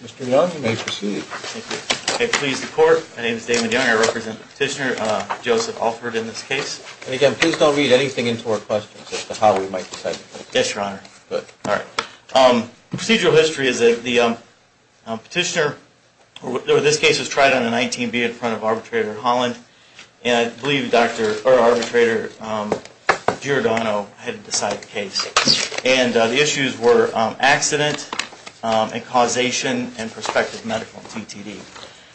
Mr. Young, you may proceed. Thank you. Please, the Court. My name is Damon Young. I represent Petitioner Joseph Alford in this case. And again, please don't read anything into our questions as to how we might decide. Yes, Your Honor. Good. All right. Procedural history is that the Petitioner, or this case was tried on a 19B in front of Arbitrator Holland, and I believe Arbitrator Giordano had decided the case. And the issues were accident and causation and prospective medical TTD.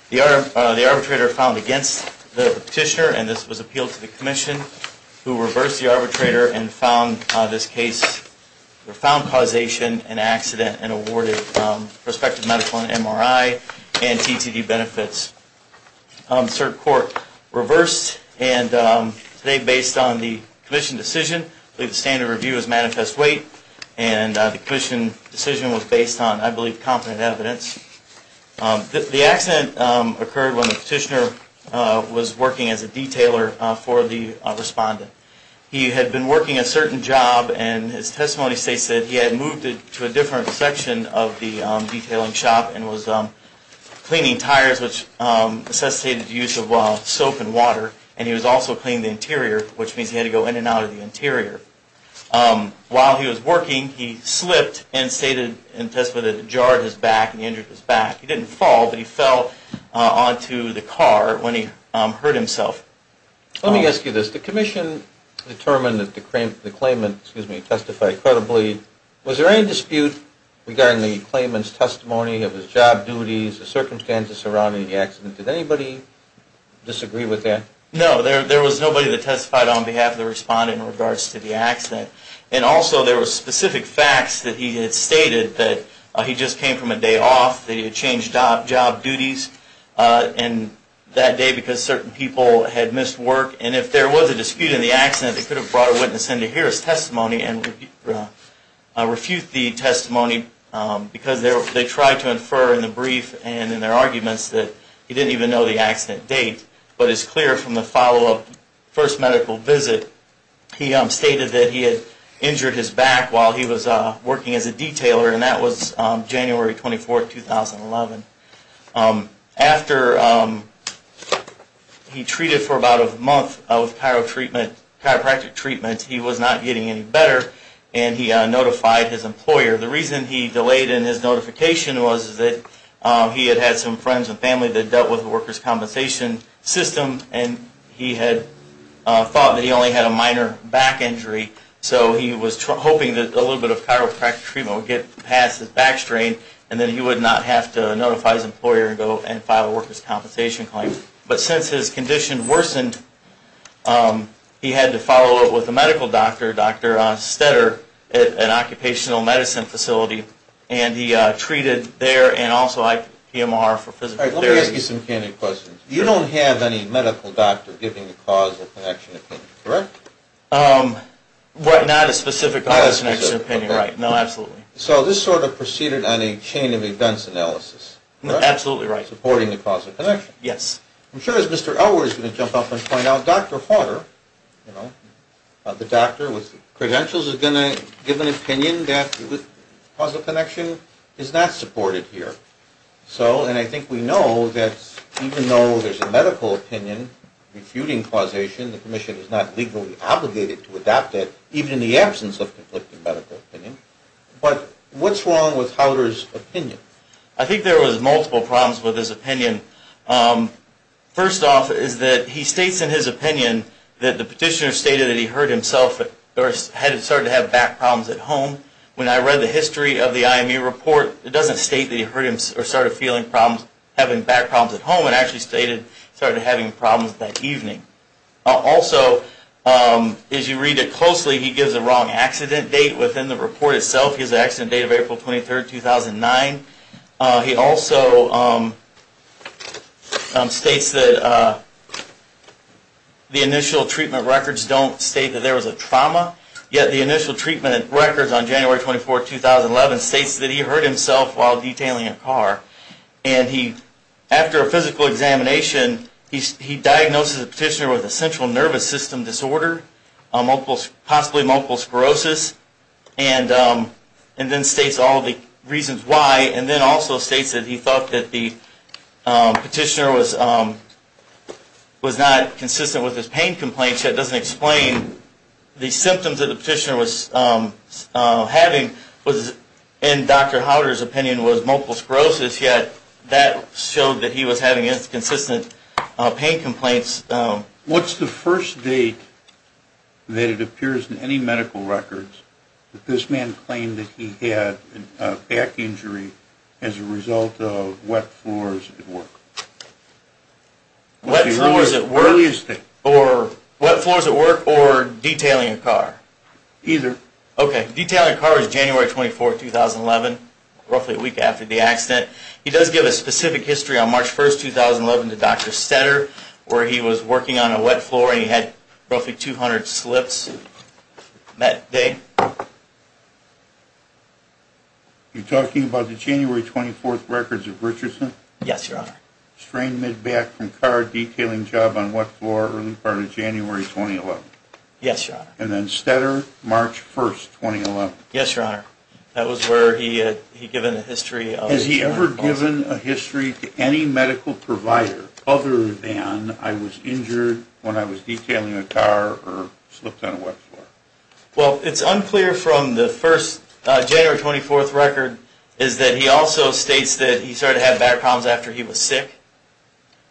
The Arbitrator found against the Petitioner, and this was appealed to the Commission, who reversed the Arbitrator and found this case, or found causation, an accident, and awarded prospective medical and MRI and TTD benefits. Cert court reversed, and today, based on the Commission decision, I believe the standard review is manifest weight, and the Commission decision was based on, I believe, The accident occurred when the Petitioner was working as a detailer for the Respondent. He had been working a certain job, and his testimony states that he had moved to a different section of the detailing shop, and was cleaning tires, which necessitated the use of soap and water, and he was also cleaning the interior, which means he had to go in and out of the interior. While he was working, he slipped and stated in testimony that he had jarred his back and injured his back. He didn't fall, but he fell onto the car when he hurt himself. Let me ask you this. The Commission determined that the claimant testified credibly. Was there any dispute regarding the claimant's testimony of his job duties, the circumstances surrounding the accident? Did anybody disagree with that? No, there was nobody that testified on behalf of the Respondent in regards to the accident, and also, there were specific facts that he had stated that he just came from a day off, that he had changed job duties that day because certain people had missed work, and if there was a dispute in the accident, they could have brought a witness in to hear his testimony and refute the testimony, because they tried to infer in the brief and in their arguments that he didn't even know the accident date, but it's clear from the follow-up first medical visit, he stated that he had injured his back while he was working as a detailer, and that was January 24, 2011. After he treated for about a month of chiropractic treatment, he was not getting any better, and he notified his employer. The reason he delayed in his notification was that he had had some friends and family that dealt with the workers' compensation system, and he had thought that he only had a minor back injury, so he was hoping that a little bit of chiropractic treatment would get past his back strain, and then he would not have to notify his employer and go and file a workers' compensation claim. But since his condition worsened, he had to follow up with a medical doctor, Dr. Stetter, at an occupational medicine facility, and he treated there and also IPMR for physical therapy. Let me ask you some candid questions. You don't have any medical doctor giving a cause of connection opinion, correct? What, not a specific cause of connection opinion, right. No, absolutely. So this sort of proceeded on a chain of events analysis, correct? Absolutely right. Supporting the cause of connection. Yes. I'm sure as Mr. Elwood is going to jump up and point out, Dr. Hauter, you know, the doctor with the credentials is going to give an opinion that the cause of connection is not supported here. So, and I think we know that even though there's a medical opinion refuting causation, the commission is not legally obligated to adopt it, even in the absence of conflicting medical opinion. But what's wrong with Hauter's opinion? I think there was multiple problems with his opinion. First off is that he states in his opinion that the petitioner stated that he heard himself started to have back problems at home. When I read the history of the IMU report, it doesn't state that he started feeling problems having back problems at home. It actually stated he started having problems that evening. Also, as you read it closely, he gives a wrong accident date within the report itself. He has an accident date of April 23, 2009. He also states that the initial treatment records don't state that there was a trauma. Yet the initial treatment records on January 24, 2011 states that he hurt himself while detailing a car. And he, after a physical examination, he diagnoses the petitioner with a central nervous system disorder, possibly multiple sclerosis. And then states all the reasons why. And then also states that he thought that the petitioner was not consistent with his pain complaints. So that doesn't explain the symptoms that the petitioner was having was, in Dr. Hauter's opinion, was multiple sclerosis. Yet that showed that he was having inconsistent pain complaints. What's the first date that it appears in any medical records that this man claimed that he had a back injury as a result of wet floors at work? Wet floors at work or detailing a car? Either. Okay. Detailing a car is January 24, 2011, roughly a week after the accident. He does give a specific history on March 1, 2011, to Dr. Stetter, where he was working on a wet floor and he had roughly 200 slips that day. You're talking about the January 24th records of Richardson? Yes, Your Honor. Strain mid-back from car, detailing job on wet floor, early part of January, 2011. Yes, Your Honor. And then Stetter, March 1, 2011. Yes, Your Honor. That was where he had given a history. Has he ever given a history to any medical provider other than I was injured when I was detailing a car or slipped on a wet floor? Well, it's unclear from the first January 24th record is that he also states that he started to have back problems after he was sick.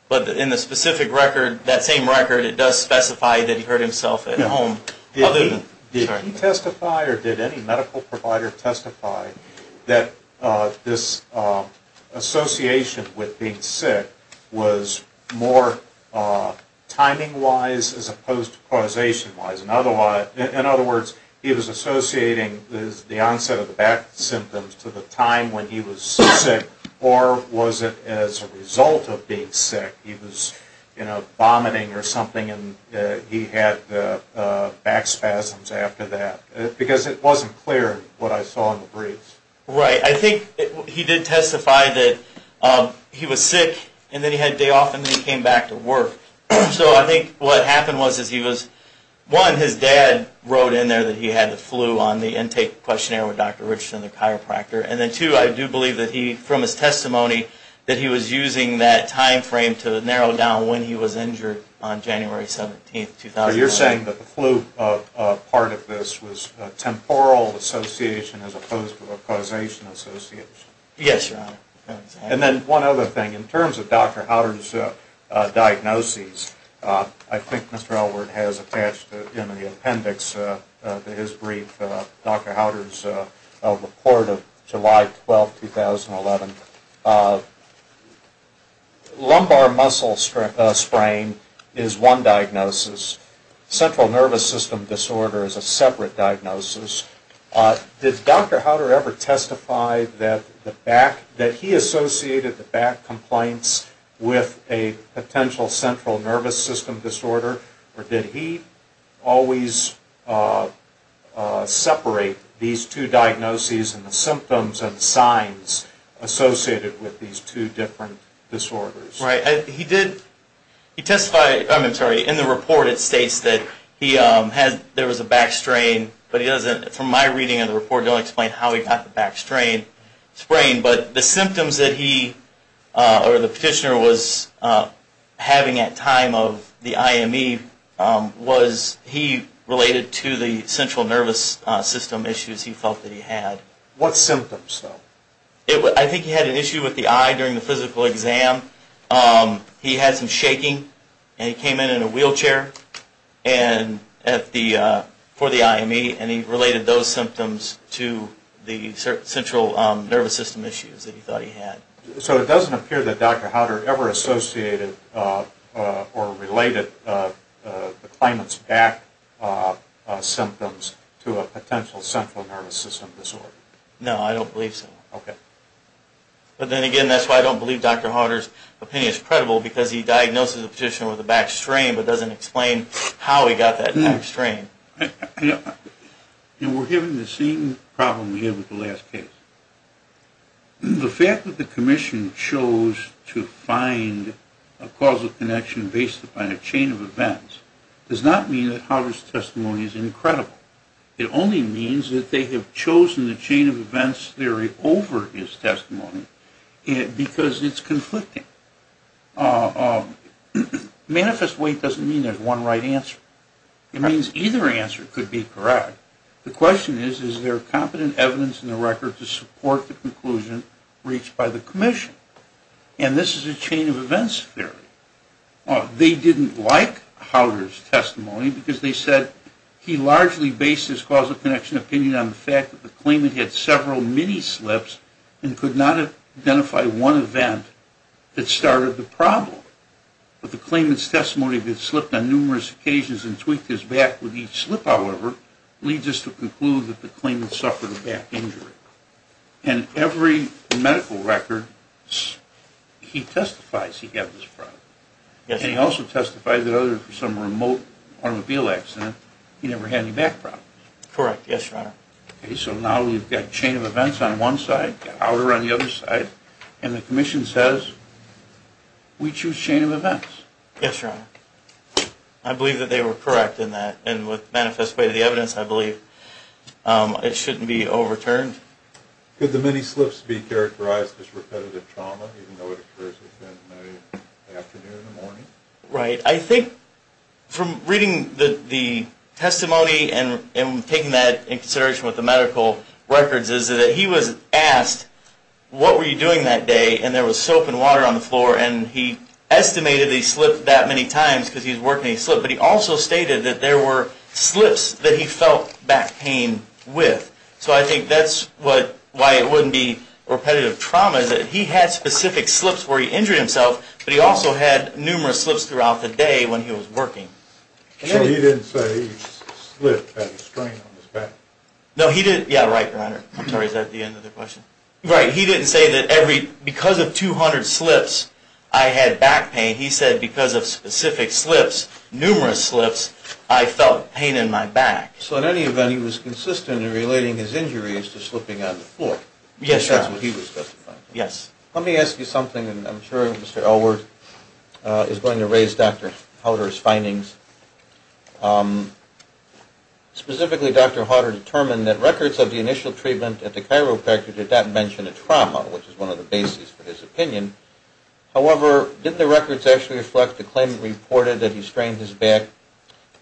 But in the specific record, that same record, it does specify that he hurt himself at home. Did he testify or did any medical provider testify that this association with being sick was more timing-wise as opposed to causation-wise? In other words, he was associating the onset of the back symptoms to the time when he was sick or was it as a result of being sick? He was vomiting or something and he had back spasms after that. Because it wasn't clear what I saw in the briefs. Right. I think he did testify that he was sick and then he had a day off and then he came back to work. So I think what happened was he was, one, his dad wrote in there that he had the flu on the intake questionnaire with Dr. Richardson, the chiropractor. And then, two, I do believe that he, from his testimony, that he was using that time frame to narrow down when he was injured on January 17th, 2009. So you're saying that the flu part of this was a temporal association as opposed to a causation association? Yes, Your Honor. And then one other thing. In terms of Dr. Howder's diagnoses, I think Mr. Elwood has attached in the appendix to his brief Dr. Howder's report of July 12th, 2011. Lumbar muscle sprain is one diagnosis. Central nervous system disorder is a separate diagnosis. Did Dr. Howder ever testify that he associated the back complaints with a potential central nervous system disorder? Or did he always separate these two diagnoses and the symptoms and signs associated with these two different disorders? Right. He did, he testified, I'm sorry, in the report it states that he had, there was a back strain, but he doesn't, from my reading of the report, it doesn't explain how he got the back strain, sprain. But the symptoms that he, or the petitioner was having at time of the IME was he related to the central nervous system issues he felt that he had. What symptoms, though? I think he had an issue with the eye during the physical exam. He had some shaking and he came in in a wheelchair for the IME and he related those symptoms to the central nervous system issues that he thought he had. So it doesn't appear that Dr. Howder ever associated or related the climate's back symptoms to a potential central nervous system disorder? No, I don't believe so. Okay. But then again, that's why I don't believe Dr. Howder's opinion is credible, because he diagnosed the petitioner with a back strain, but doesn't explain how he got that back strain. You know, we're given the same problem we had with the last case. The fact that the commission chose to find a causal connection based upon a chain of events does not mean that Howder's testimony is incredible. It only means that they have chosen the chain of events theory over his testimony because it's conflicting. Manifest weight doesn't mean there's one right answer. It means either answer could be correct. The question is, is there competent evidence in the record to support the conclusion reached by the commission? And this is a chain of events theory. They didn't like Howder's testimony because they said, he largely based his causal connection opinion on the fact that the claimant had several mini slips and could not identify one event that started the problem. But the claimant's testimony that he slipped on numerous occasions and tweaked his back with each slip, however, leads us to conclude that the claimant suffered a back injury. And every medical record, he testifies he had this problem. And he also testified that other than some remote automobile accident, he never had any back problems. Correct. Yes, Your Honor. So now we've got chain of events on one side, Howder on the other side, and the commission says, we choose chain of events. Yes, Your Honor. I believe that they were correct in that. And with the manifest way of the evidence, I believe it shouldn't be overturned. Could the mini slips be characterized as repetitive trauma, even though it occurs in the afternoon or the morning? Right. I think from reading the testimony and taking that into consideration with the medical records, is that he was asked, what were you doing that day? And there was soap and water on the floor. And he estimated that he slipped that many times because he was working and he slipped. But he also stated that there were slips that he felt back pain with. So I think that's why it wouldn't be repetitive trauma, is that he had specific slips where he injured himself, but he also had numerous slips throughout the day when he was working. So he didn't say each slip had a strain on his back? No, he didn't. Yeah, right, Your Honor. I'm sorry, is that the end of the question? Right. He didn't say that because of 200 slips, I had back pain. He said because of specific slips, numerous slips, I felt pain in my back. So in any event, he was consistent in relating his injuries to slipping on the floor. Yes, Your Honor. That's what he was testifying to. Yes. Let me ask you something, and I'm sure Mr. Elworth is going to raise Dr. Hauter's findings. Specifically, Dr. Hauter determined that records of the initial treatment at the chiropractor did not mention a trauma, which is one of the bases for his opinion. However, didn't the records actually reflect the claim reported that he strained his back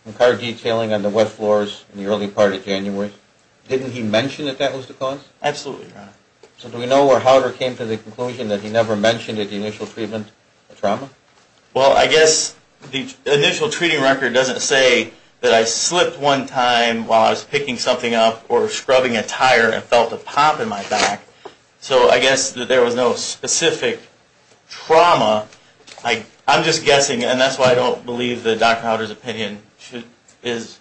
from car detailing on the wet floors in the early part of January? Didn't he mention that that was the cause? Absolutely, Your Honor. So do we know where Hauter came to the conclusion that he never mentioned at the initial treatment a trauma? Well, I guess the initial treating record doesn't say that I slipped one time while I was picking something up or scrubbing a tire and felt a pop in my back. So I guess that there was no specific trauma. I'm just guessing, and that's why I don't believe that Dr. Hauter's opinion is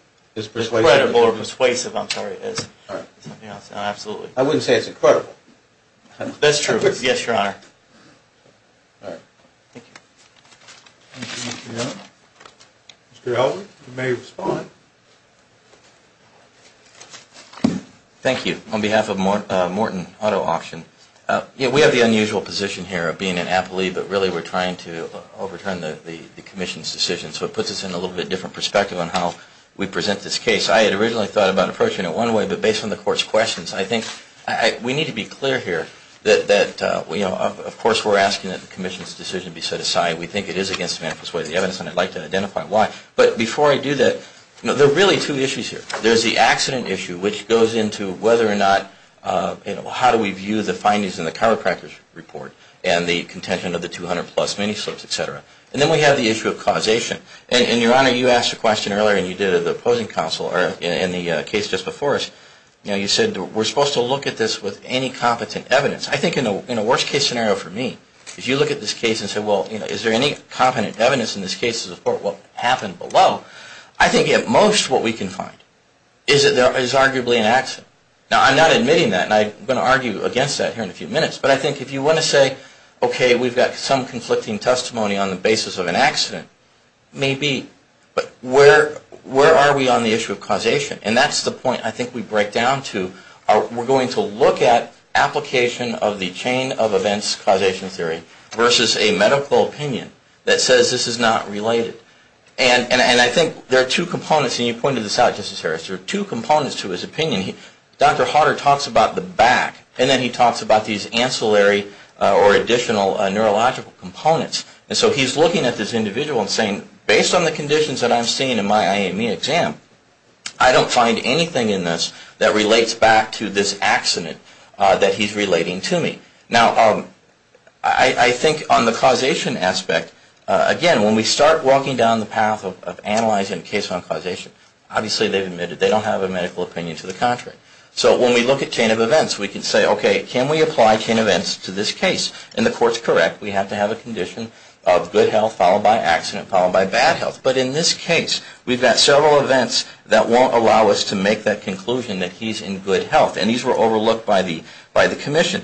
credible or persuasive. I'm sorry. It's something else. Absolutely. I wouldn't say it's incredible. That's true. Yes, Your Honor. Mr. Elworth, you may respond. Thank you. On behalf of Morton Auto Auction, we have the unusual position here of being an appellee, but really we're trying to overturn the Commission's decision. So it puts us in a little bit different perspective on how we present this case. I had originally thought about approaching it one way, but based on the Court's questions, I think we need to be clear here that, of course, we're asking that the Commission's decision be set aside. We think it is against the manifest way of the evidence, and I'd like to identify why. But before I do that, there are really two issues here. There's the accident issue, which goes into whether or not, you know, how do we view the findings in the chiropractor's report and the contention of the 200-plus minislips, et cetera. And then we have the issue of causation. And, Your Honor, you asked a question earlier, and you did at the opposing counsel, or in the case just before us, you said we're supposed to look at this with any competent evidence. I think in a worst-case scenario for me, if you look at this case and say, well, is there any competent evidence in this case to support what happened below, I think at most what we can find is that there is arguably an accident. Now, I'm not admitting that, and I'm going to argue against that here in a few minutes, but I think if you want to say, okay, we've got some conflicting testimony on the basis of an accident, maybe, but where are we on the issue of causation? And that's the point I think we break down to. We're going to look at application of the chain of events causation theory versus a medical opinion that says this is not related. And I think there are two components, and you pointed this out, Justice Harris. There are two components to his opinion. Dr. Hodder talks about the back, and then he talks about these ancillary or additional neurological components. And so he's looking at this individual and saying, based on the conditions that I'm seeing in my IME exam, I don't find anything in this that relates back to this accident that he's relating to me. Now, I think on the causation aspect, again, when we start walking down the path of analyzing a case on causation, obviously they've admitted they don't have a medical opinion to the contrary. So when we look at chain of events, we can say, okay, can we apply chain of events to this case? And the court's correct. We have to have a condition of good health followed by accident followed by bad health. But in this case, we've got several events that won't allow us to make that conclusion that he's in good health, and these were overlooked by the commission.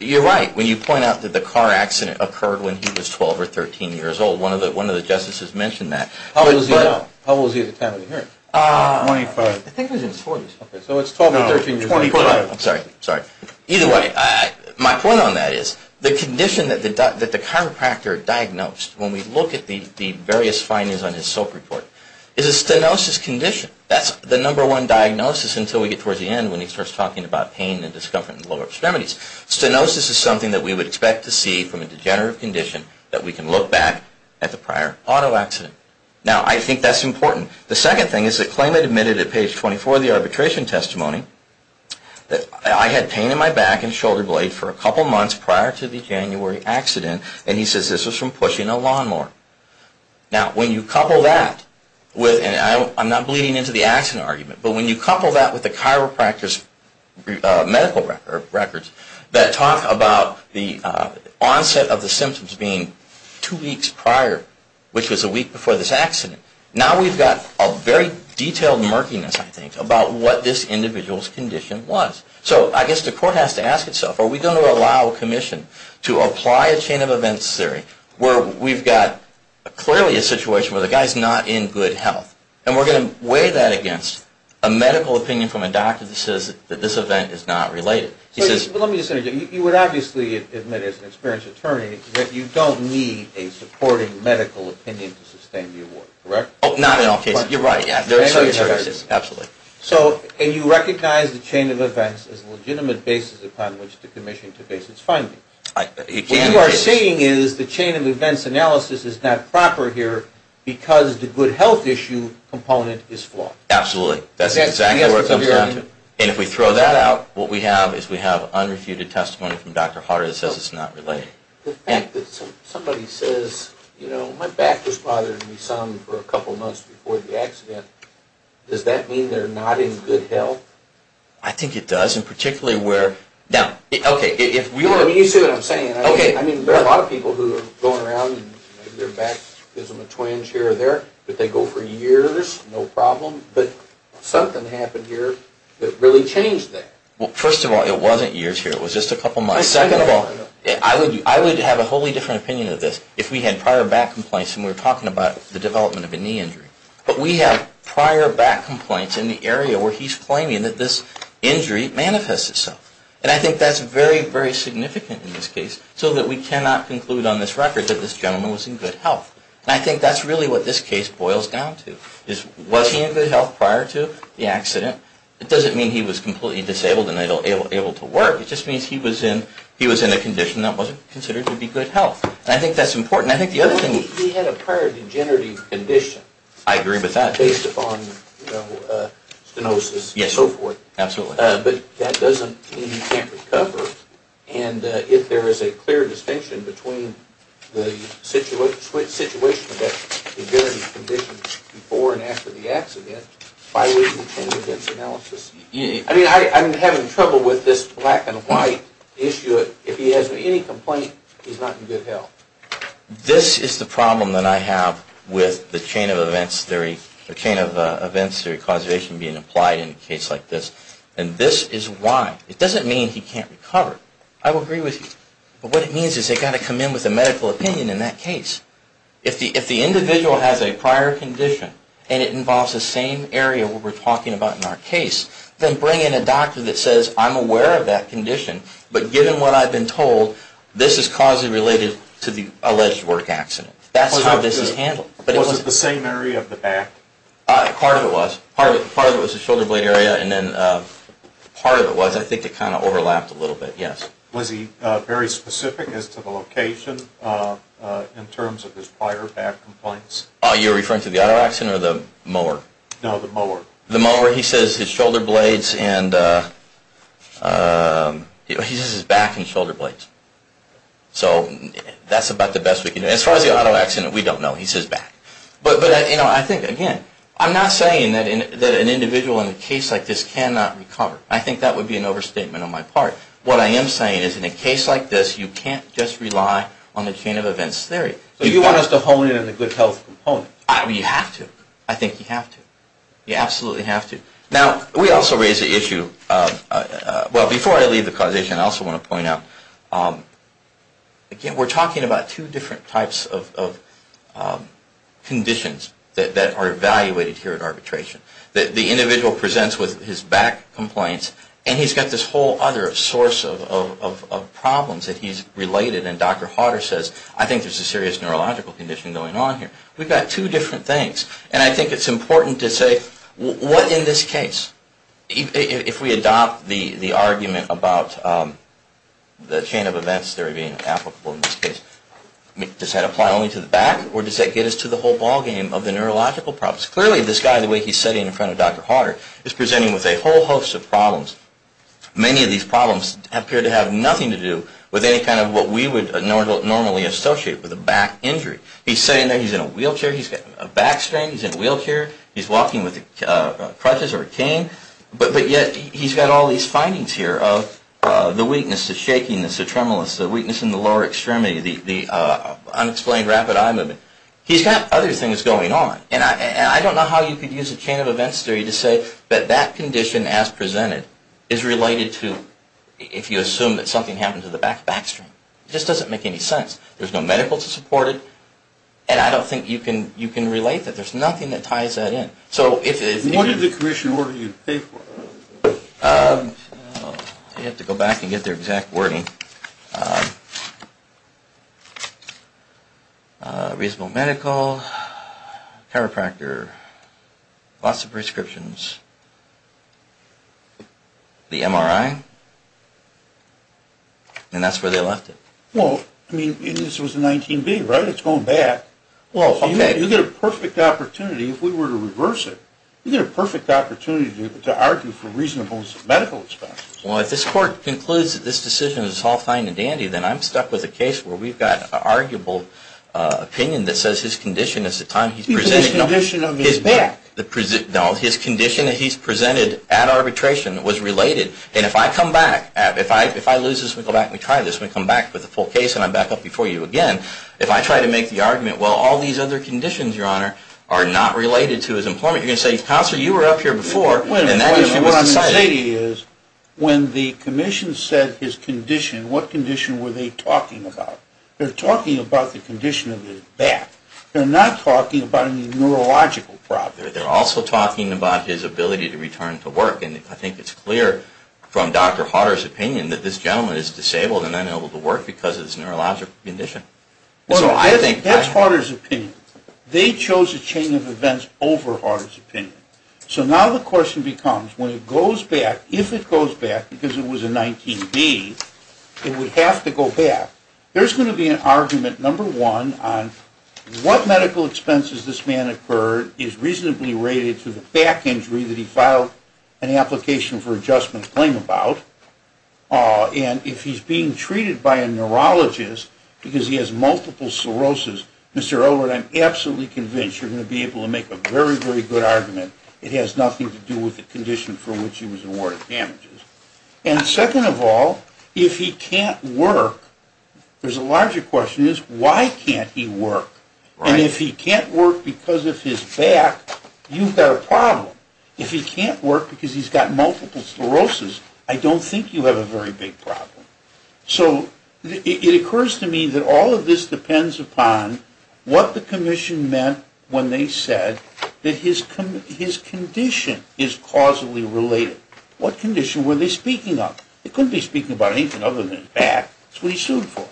You're right when you point out that the car accident occurred when he was 12 or 13 years old. One of the justices mentioned that. How old was he at the time of the hearing? Twenty-five. I think it was in his 40s. So it's 12 to 13 years old. No, 25. I'm sorry. Either way, my point on that is the condition that the chiropractor diagnosed, when we look at the various findings on his SOAP report, is a stenosis condition. That's the number one diagnosis until we get towards the end when he starts talking about pain and discomfort in the lower extremities. Stenosis is something that we would expect to see from a degenerative condition that we can look back at the prior auto accident. Now, I think that's important. The second thing is the claimant admitted at page 24 of the arbitration testimony that I had pain in my back and shoulder blade for a couple months prior to the January accident, and he says this was from pushing a lawnmower. Now, when you couple that with, and I'm not bleeding into the accident argument, but when you couple that with the chiropractor's medical records that talk about the onset of the symptoms being two weeks prior, which was a week before this accident, now we've got a very detailed murkiness, I think, about what this individual's condition was. So I guess the court has to ask itself, are we going to allow commission to apply a chain of events theory where we've got clearly a situation where the guy's not in good health, and we're going to weigh that against a medical opinion from a doctor that says that this event is not related. Let me just say, you would obviously admit as an experienced attorney that you don't need a supporting medical opinion to sustain the award, correct? Not in all cases. You're right. Absolutely. So, and you recognize the chain of events as a legitimate basis upon which to commission to base its finding. What you are saying is the chain of events analysis is not proper here because the good health issue component is flawed. Absolutely. That's exactly where it comes down to. And if we throw that out, what we have is we have unrefuted testimony from Dr. Harter that says it's not related. The fact that somebody says, you know, my back was bothering me some for a couple of months before the accident, does that mean they're not in good health? I think it does, and particularly where, You see what I'm saying. Okay. I mean, there are a lot of people who are going around and their back is in a twinge here or there, but they go for years, no problem. But something happened here that really changed that. Well, first of all, it wasn't years here. It was just a couple months. Second of all, I would have a wholly different opinion of this if we had prior back complaints and we were talking about the development of a knee injury. But we have prior back complaints in the area where he's claiming that this injury manifested itself. And I think that's very, very significant in this case, so that we cannot conclude on this record that this gentleman was in good health. And I think that's really what this case boils down to, is was he in good health prior to the accident? It doesn't mean he was completely disabled and able to work. It just means he was in a condition that wasn't considered to be good health. And I think that's important. Well, he had a prior degenerative condition. I agree with that. Based upon stenosis and so forth. Yes, absolutely. But that doesn't mean he can't recover. And if there is a clear distinction between the situation of that degenerative condition before and after the accident, why would he change his analysis? I mean, I'm having trouble with this black and white issue. But if he has any complaint, he's not in good health. This is the problem that I have with the chain of events theory, the chain of events theory causation being applied in a case like this. And this is why. It doesn't mean he can't recover. I will agree with you. But what it means is they've got to come in with a medical opinion in that case. If the individual has a prior condition and it involves the same area we're talking about in our case, then bring in a doctor that says, I'm aware of that condition, but given what I've been told, this is causally related to the alleged work accident. That's how this is handled. Was it the same area of the back? Part of it was. Part of it was the shoulder blade area, and then part of it was. I think it kind of overlapped a little bit. Yes? Was he very specific as to the location in terms of his prior back complaints? You're referring to the other accident or the mower? No, the mower. The mower. The mower, he says his shoulder blades and he says his back and shoulder blades. So that's about the best we can do. As far as the auto accident, we don't know. He says back. But I think, again, I'm not saying that an individual in a case like this cannot recover. I think that would be an overstatement on my part. What I am saying is in a case like this, you can't just rely on the chain of events theory. So you want us to hone in on the good health component? You have to. I think you have to. You absolutely have to. Now, we also raise the issue of, well, before I leave the causation, I also want to point out, again, we're talking about two different types of conditions that are evaluated here at arbitration. The individual presents with his back complaints, and he's got this whole other source of problems that he's related. And Dr. Hodder says, I think there's a serious neurological condition going on here. We've got two different things. And I think it's important to say, what in this case, if we adopt the argument about the chain of events theory being applicable in this case, does that apply only to the back, or does that get us to the whole ballgame of the neurological problems? Clearly, this guy, the way he's sitting in front of Dr. Hodder, is presenting with a whole host of problems. Many of these problems appear to have nothing to do with any kind of what we would normally associate with a back injury. He's sitting there. He's in a wheelchair. He's got a back strain. He's in a wheelchair. He's walking with crutches or a cane. But yet, he's got all these findings here of the weakness, the shakiness, the tremulous, the weakness in the lower extremity, the unexplained rapid eye movement. He's got other things going on. And I don't know how you could use a chain of events theory to say that that condition, as presented, is related to if you assume that something happened to the back strain. It just doesn't make any sense. There's no medical to support it. And I don't think you can relate that. There's nothing that ties that in. What did the commission order you to pay for? You have to go back and get their exact wording. Reasonable Medical, Chiropractor, lots of prescriptions, the MRI, and that's where they left it. Well, I mean, this was a 19B, right? It's going back. Well, okay. You get a perfect opportunity if we were to reverse it. You get a perfect opportunity to argue for reasonable medical expenses. Well, if this court concludes that this decision is all fine and dandy, then I'm stuck with a case where we've got an arguable opinion that says his condition is the time he's presented. Because the condition of his back. No, his condition that he's presented at arbitration was related. And if I come back, if I lose this and we go back and we try this and we come back with a full case and I'm back up before you again, if I try to make the argument, well, all these other conditions, Your Honor, are not related to his employment, you're going to say, Counselor, you were up here before and that issue wasn't cited. Wait a minute. What I'm saying is when the commission said his condition, what condition were they talking about? They're talking about the condition of his back. They're not talking about any neurological problem. They're also talking about his ability to return to work. And I think it's clear from Dr. Harder's opinion that this gentleman is disabled and unable to work because of his neurological condition. That's Harder's opinion. They chose a chain of events over Harder's opinion. So now the question becomes, when it goes back, if it goes back, because it was a 19B, it would have to go back. There's going to be an argument, number one, on what medical expenses this man incurred is reasonably related to the back injury that he filed an application for adjustment claim about. And if he's being treated by a neurologist because he has multiple sclerosis, Mr. Elwood, I'm absolutely convinced you're going to be able to make a very, very good argument. It has nothing to do with the condition for which he was awarded damages. And second of all, if he can't work, there's a larger question is, why can't he work? And if he can't work because of his back, you've got a problem. If he can't work because he's got multiple sclerosis, I don't think you have a very big problem. So it occurs to me that all of this depends upon what the commission meant when they said that his condition is causally related. What condition were they speaking of? They couldn't be speaking about anything other than his back. That's what he sued for.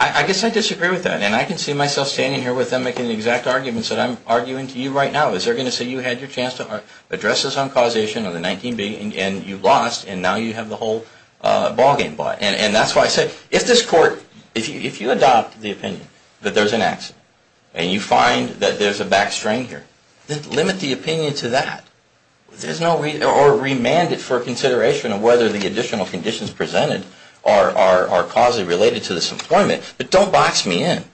I guess I disagree with that. And I can see myself standing here with them making the exact arguments that I'm arguing to you right now. Is there going to say you had your chance to address this on causation of the 19B, and you lost, and now you have the whole ballgame? And that's why I say, if this court, if you adopt the opinion that there's an accident, and you find that there's a back strain here, then limit the opinion to that. Or remand it for consideration of whether the additional conditions presented are causally related to this employment. But don't box me in.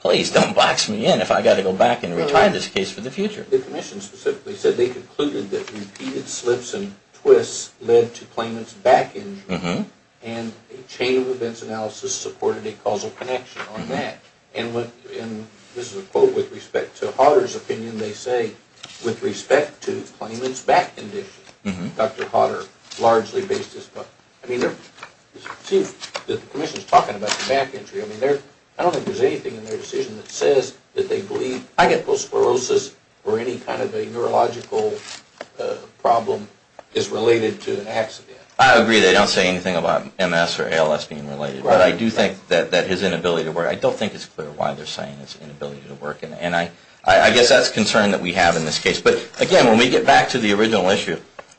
Please don't box me in if I've got to go back and retire this case for the future. The commission specifically said they concluded that repeated slips and twists led to claimant's back injury, and a chain of events analysis supported a causal connection on that. And this is a quote with respect to Hodder's opinion. They say, with respect to claimant's back condition, Dr. Hodder largely based this. I mean, the commission's talking about the back injury. I mean, I don't think there's anything in their decision that says that they believe, I get postsclerosis, or any kind of a neurological problem is related to an accident. I agree. They don't say anything about MS or ALS being related. But I do think that his inability to work, I don't think it's clear why they're saying his inability to work. And I guess that's a concern that we have in this case. But again, when we get back to the original issue,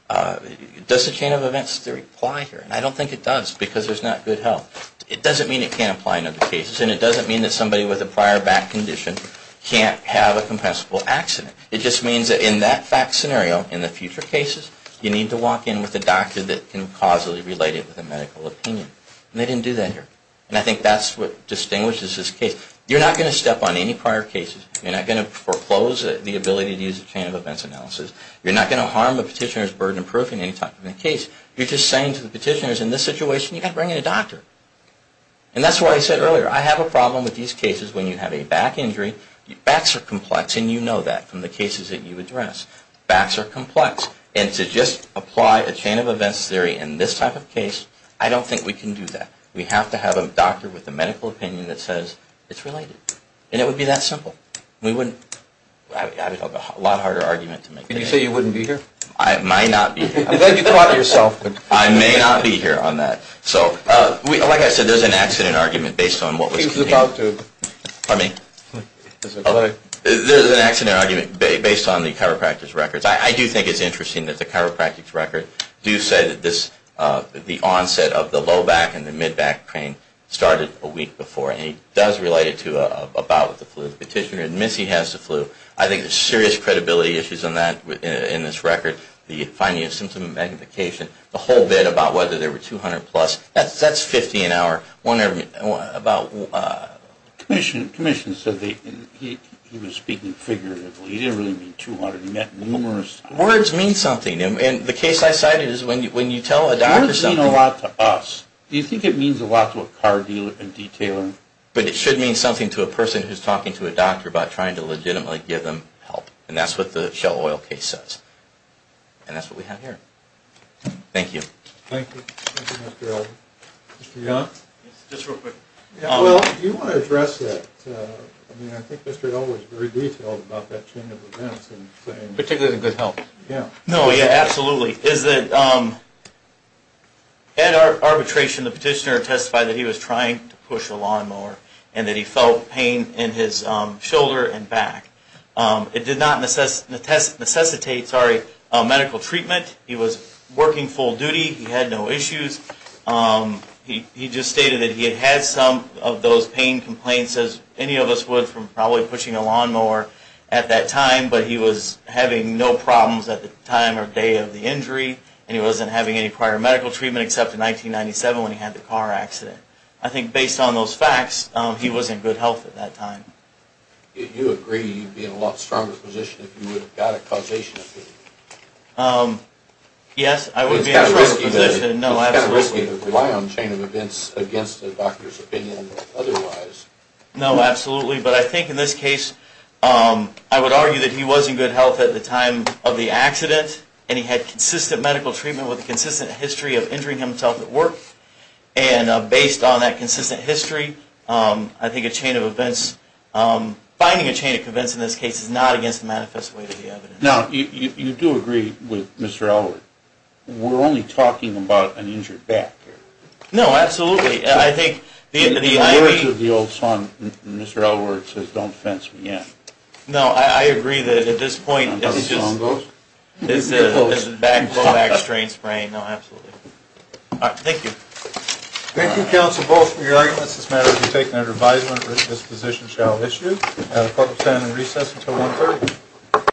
does the chain of events theory apply here? And I don't think it does because there's not good health. It doesn't mean it can't apply in other cases, and it doesn't mean that somebody with a prior back condition can't have a compensable accident. It just means that in that fact scenario, in the future cases, you need to walk in with a doctor that can causally relate it with a medical opinion. And they didn't do that here. And I think that's what distinguishes this case. You're not going to step on any prior cases. You're not going to foreclose the ability to use a chain of events analysis. You're not going to harm a petitioner's burden of proof in any type of a case. You're just saying to the petitioners, in this situation, you've got to bring in a doctor. And that's why I said earlier, I have a problem with these cases when you have a back injury. Backs are complex, and you know that from the cases that you address. Backs are complex. And to just apply a chain of events theory in this type of case, I don't think we can do that. We have to have a doctor with a medical opinion that says it's related. And it would be that simple. We wouldn't. I would have a lot harder argument to make. Did you say you wouldn't be here? I might not be here. I may not be here on that. So like I said, there's an accident argument based on what was contained. He was about to. Pardon me? There's an accident argument based on the chiropractor's records. I do think it's interesting that the chiropractor's record do say that the onset of the low back and the mid back pain started a week before. And he does relate it to a bout with the flu. The petitioner admits he has the flu. I think there's serious credibility issues in this record, the finding of symptom magnification, the whole bit about whether there were 200-plus. That's 50 an hour. Commissioner said he was speaking figuratively. He didn't really mean 200. He meant numerous. Words mean something. And the case I cited is when you tell a doctor something. Words mean a lot to us. Do you think it means a lot to a car dealer and detailer? But it should mean something to a person who's talking to a doctor about trying to legitimately give them help. And that's what the Shell Oil case says. And that's what we have here. Thank you. Thank you. Thank you, Mr. Elder. Mr. Young? Just real quick. Yeah, well, do you want to address that? I mean, I think Mr. Elder was very detailed about that chain of events. Particularly the good health. Yeah. No, yeah, absolutely. Is that at arbitration the petitioner testified that he was trying to push a lawnmower and that he felt pain in his shoulder and back. It did not necessitate medical treatment. He was working full duty. He had no issues. He just stated that he had had some of those pain complaints as any of us would from probably pushing a lawnmower at that time. But he was having no problems at the time or day of the injury. And he wasn't having any prior medical treatment except in 1997 when he had the car accident. I think based on those facts, he was in good health at that time. Do you agree you'd be in a lot stronger position if you would have got a causation of pain? Yes, I would be in a stronger position. It's kind of risky to rely on chain of events against a doctor's opinion otherwise. No, absolutely. But I think in this case, I would argue that he was in good health at the time of the accident and he had consistent medical treatment with a consistent history of injuring himself at work. And based on that consistent history, I think a chain of events, finding a chain of events in this case is not against the manifest way to the evidence. Now, you do agree with Mr. Elwood. We're only talking about an injured back here. No, absolutely. I think the IV... In the words of the old song, Mr. Elwood says, don't fence me in. No, I agree that at this point... Is that how the song goes? It's a low back strain sprain. No, absolutely. All right. Thank you. Thank you, counsel, both for your arguments. This matter will be taken under advisement. This position shall issue at a public hearing in recess until 1.30.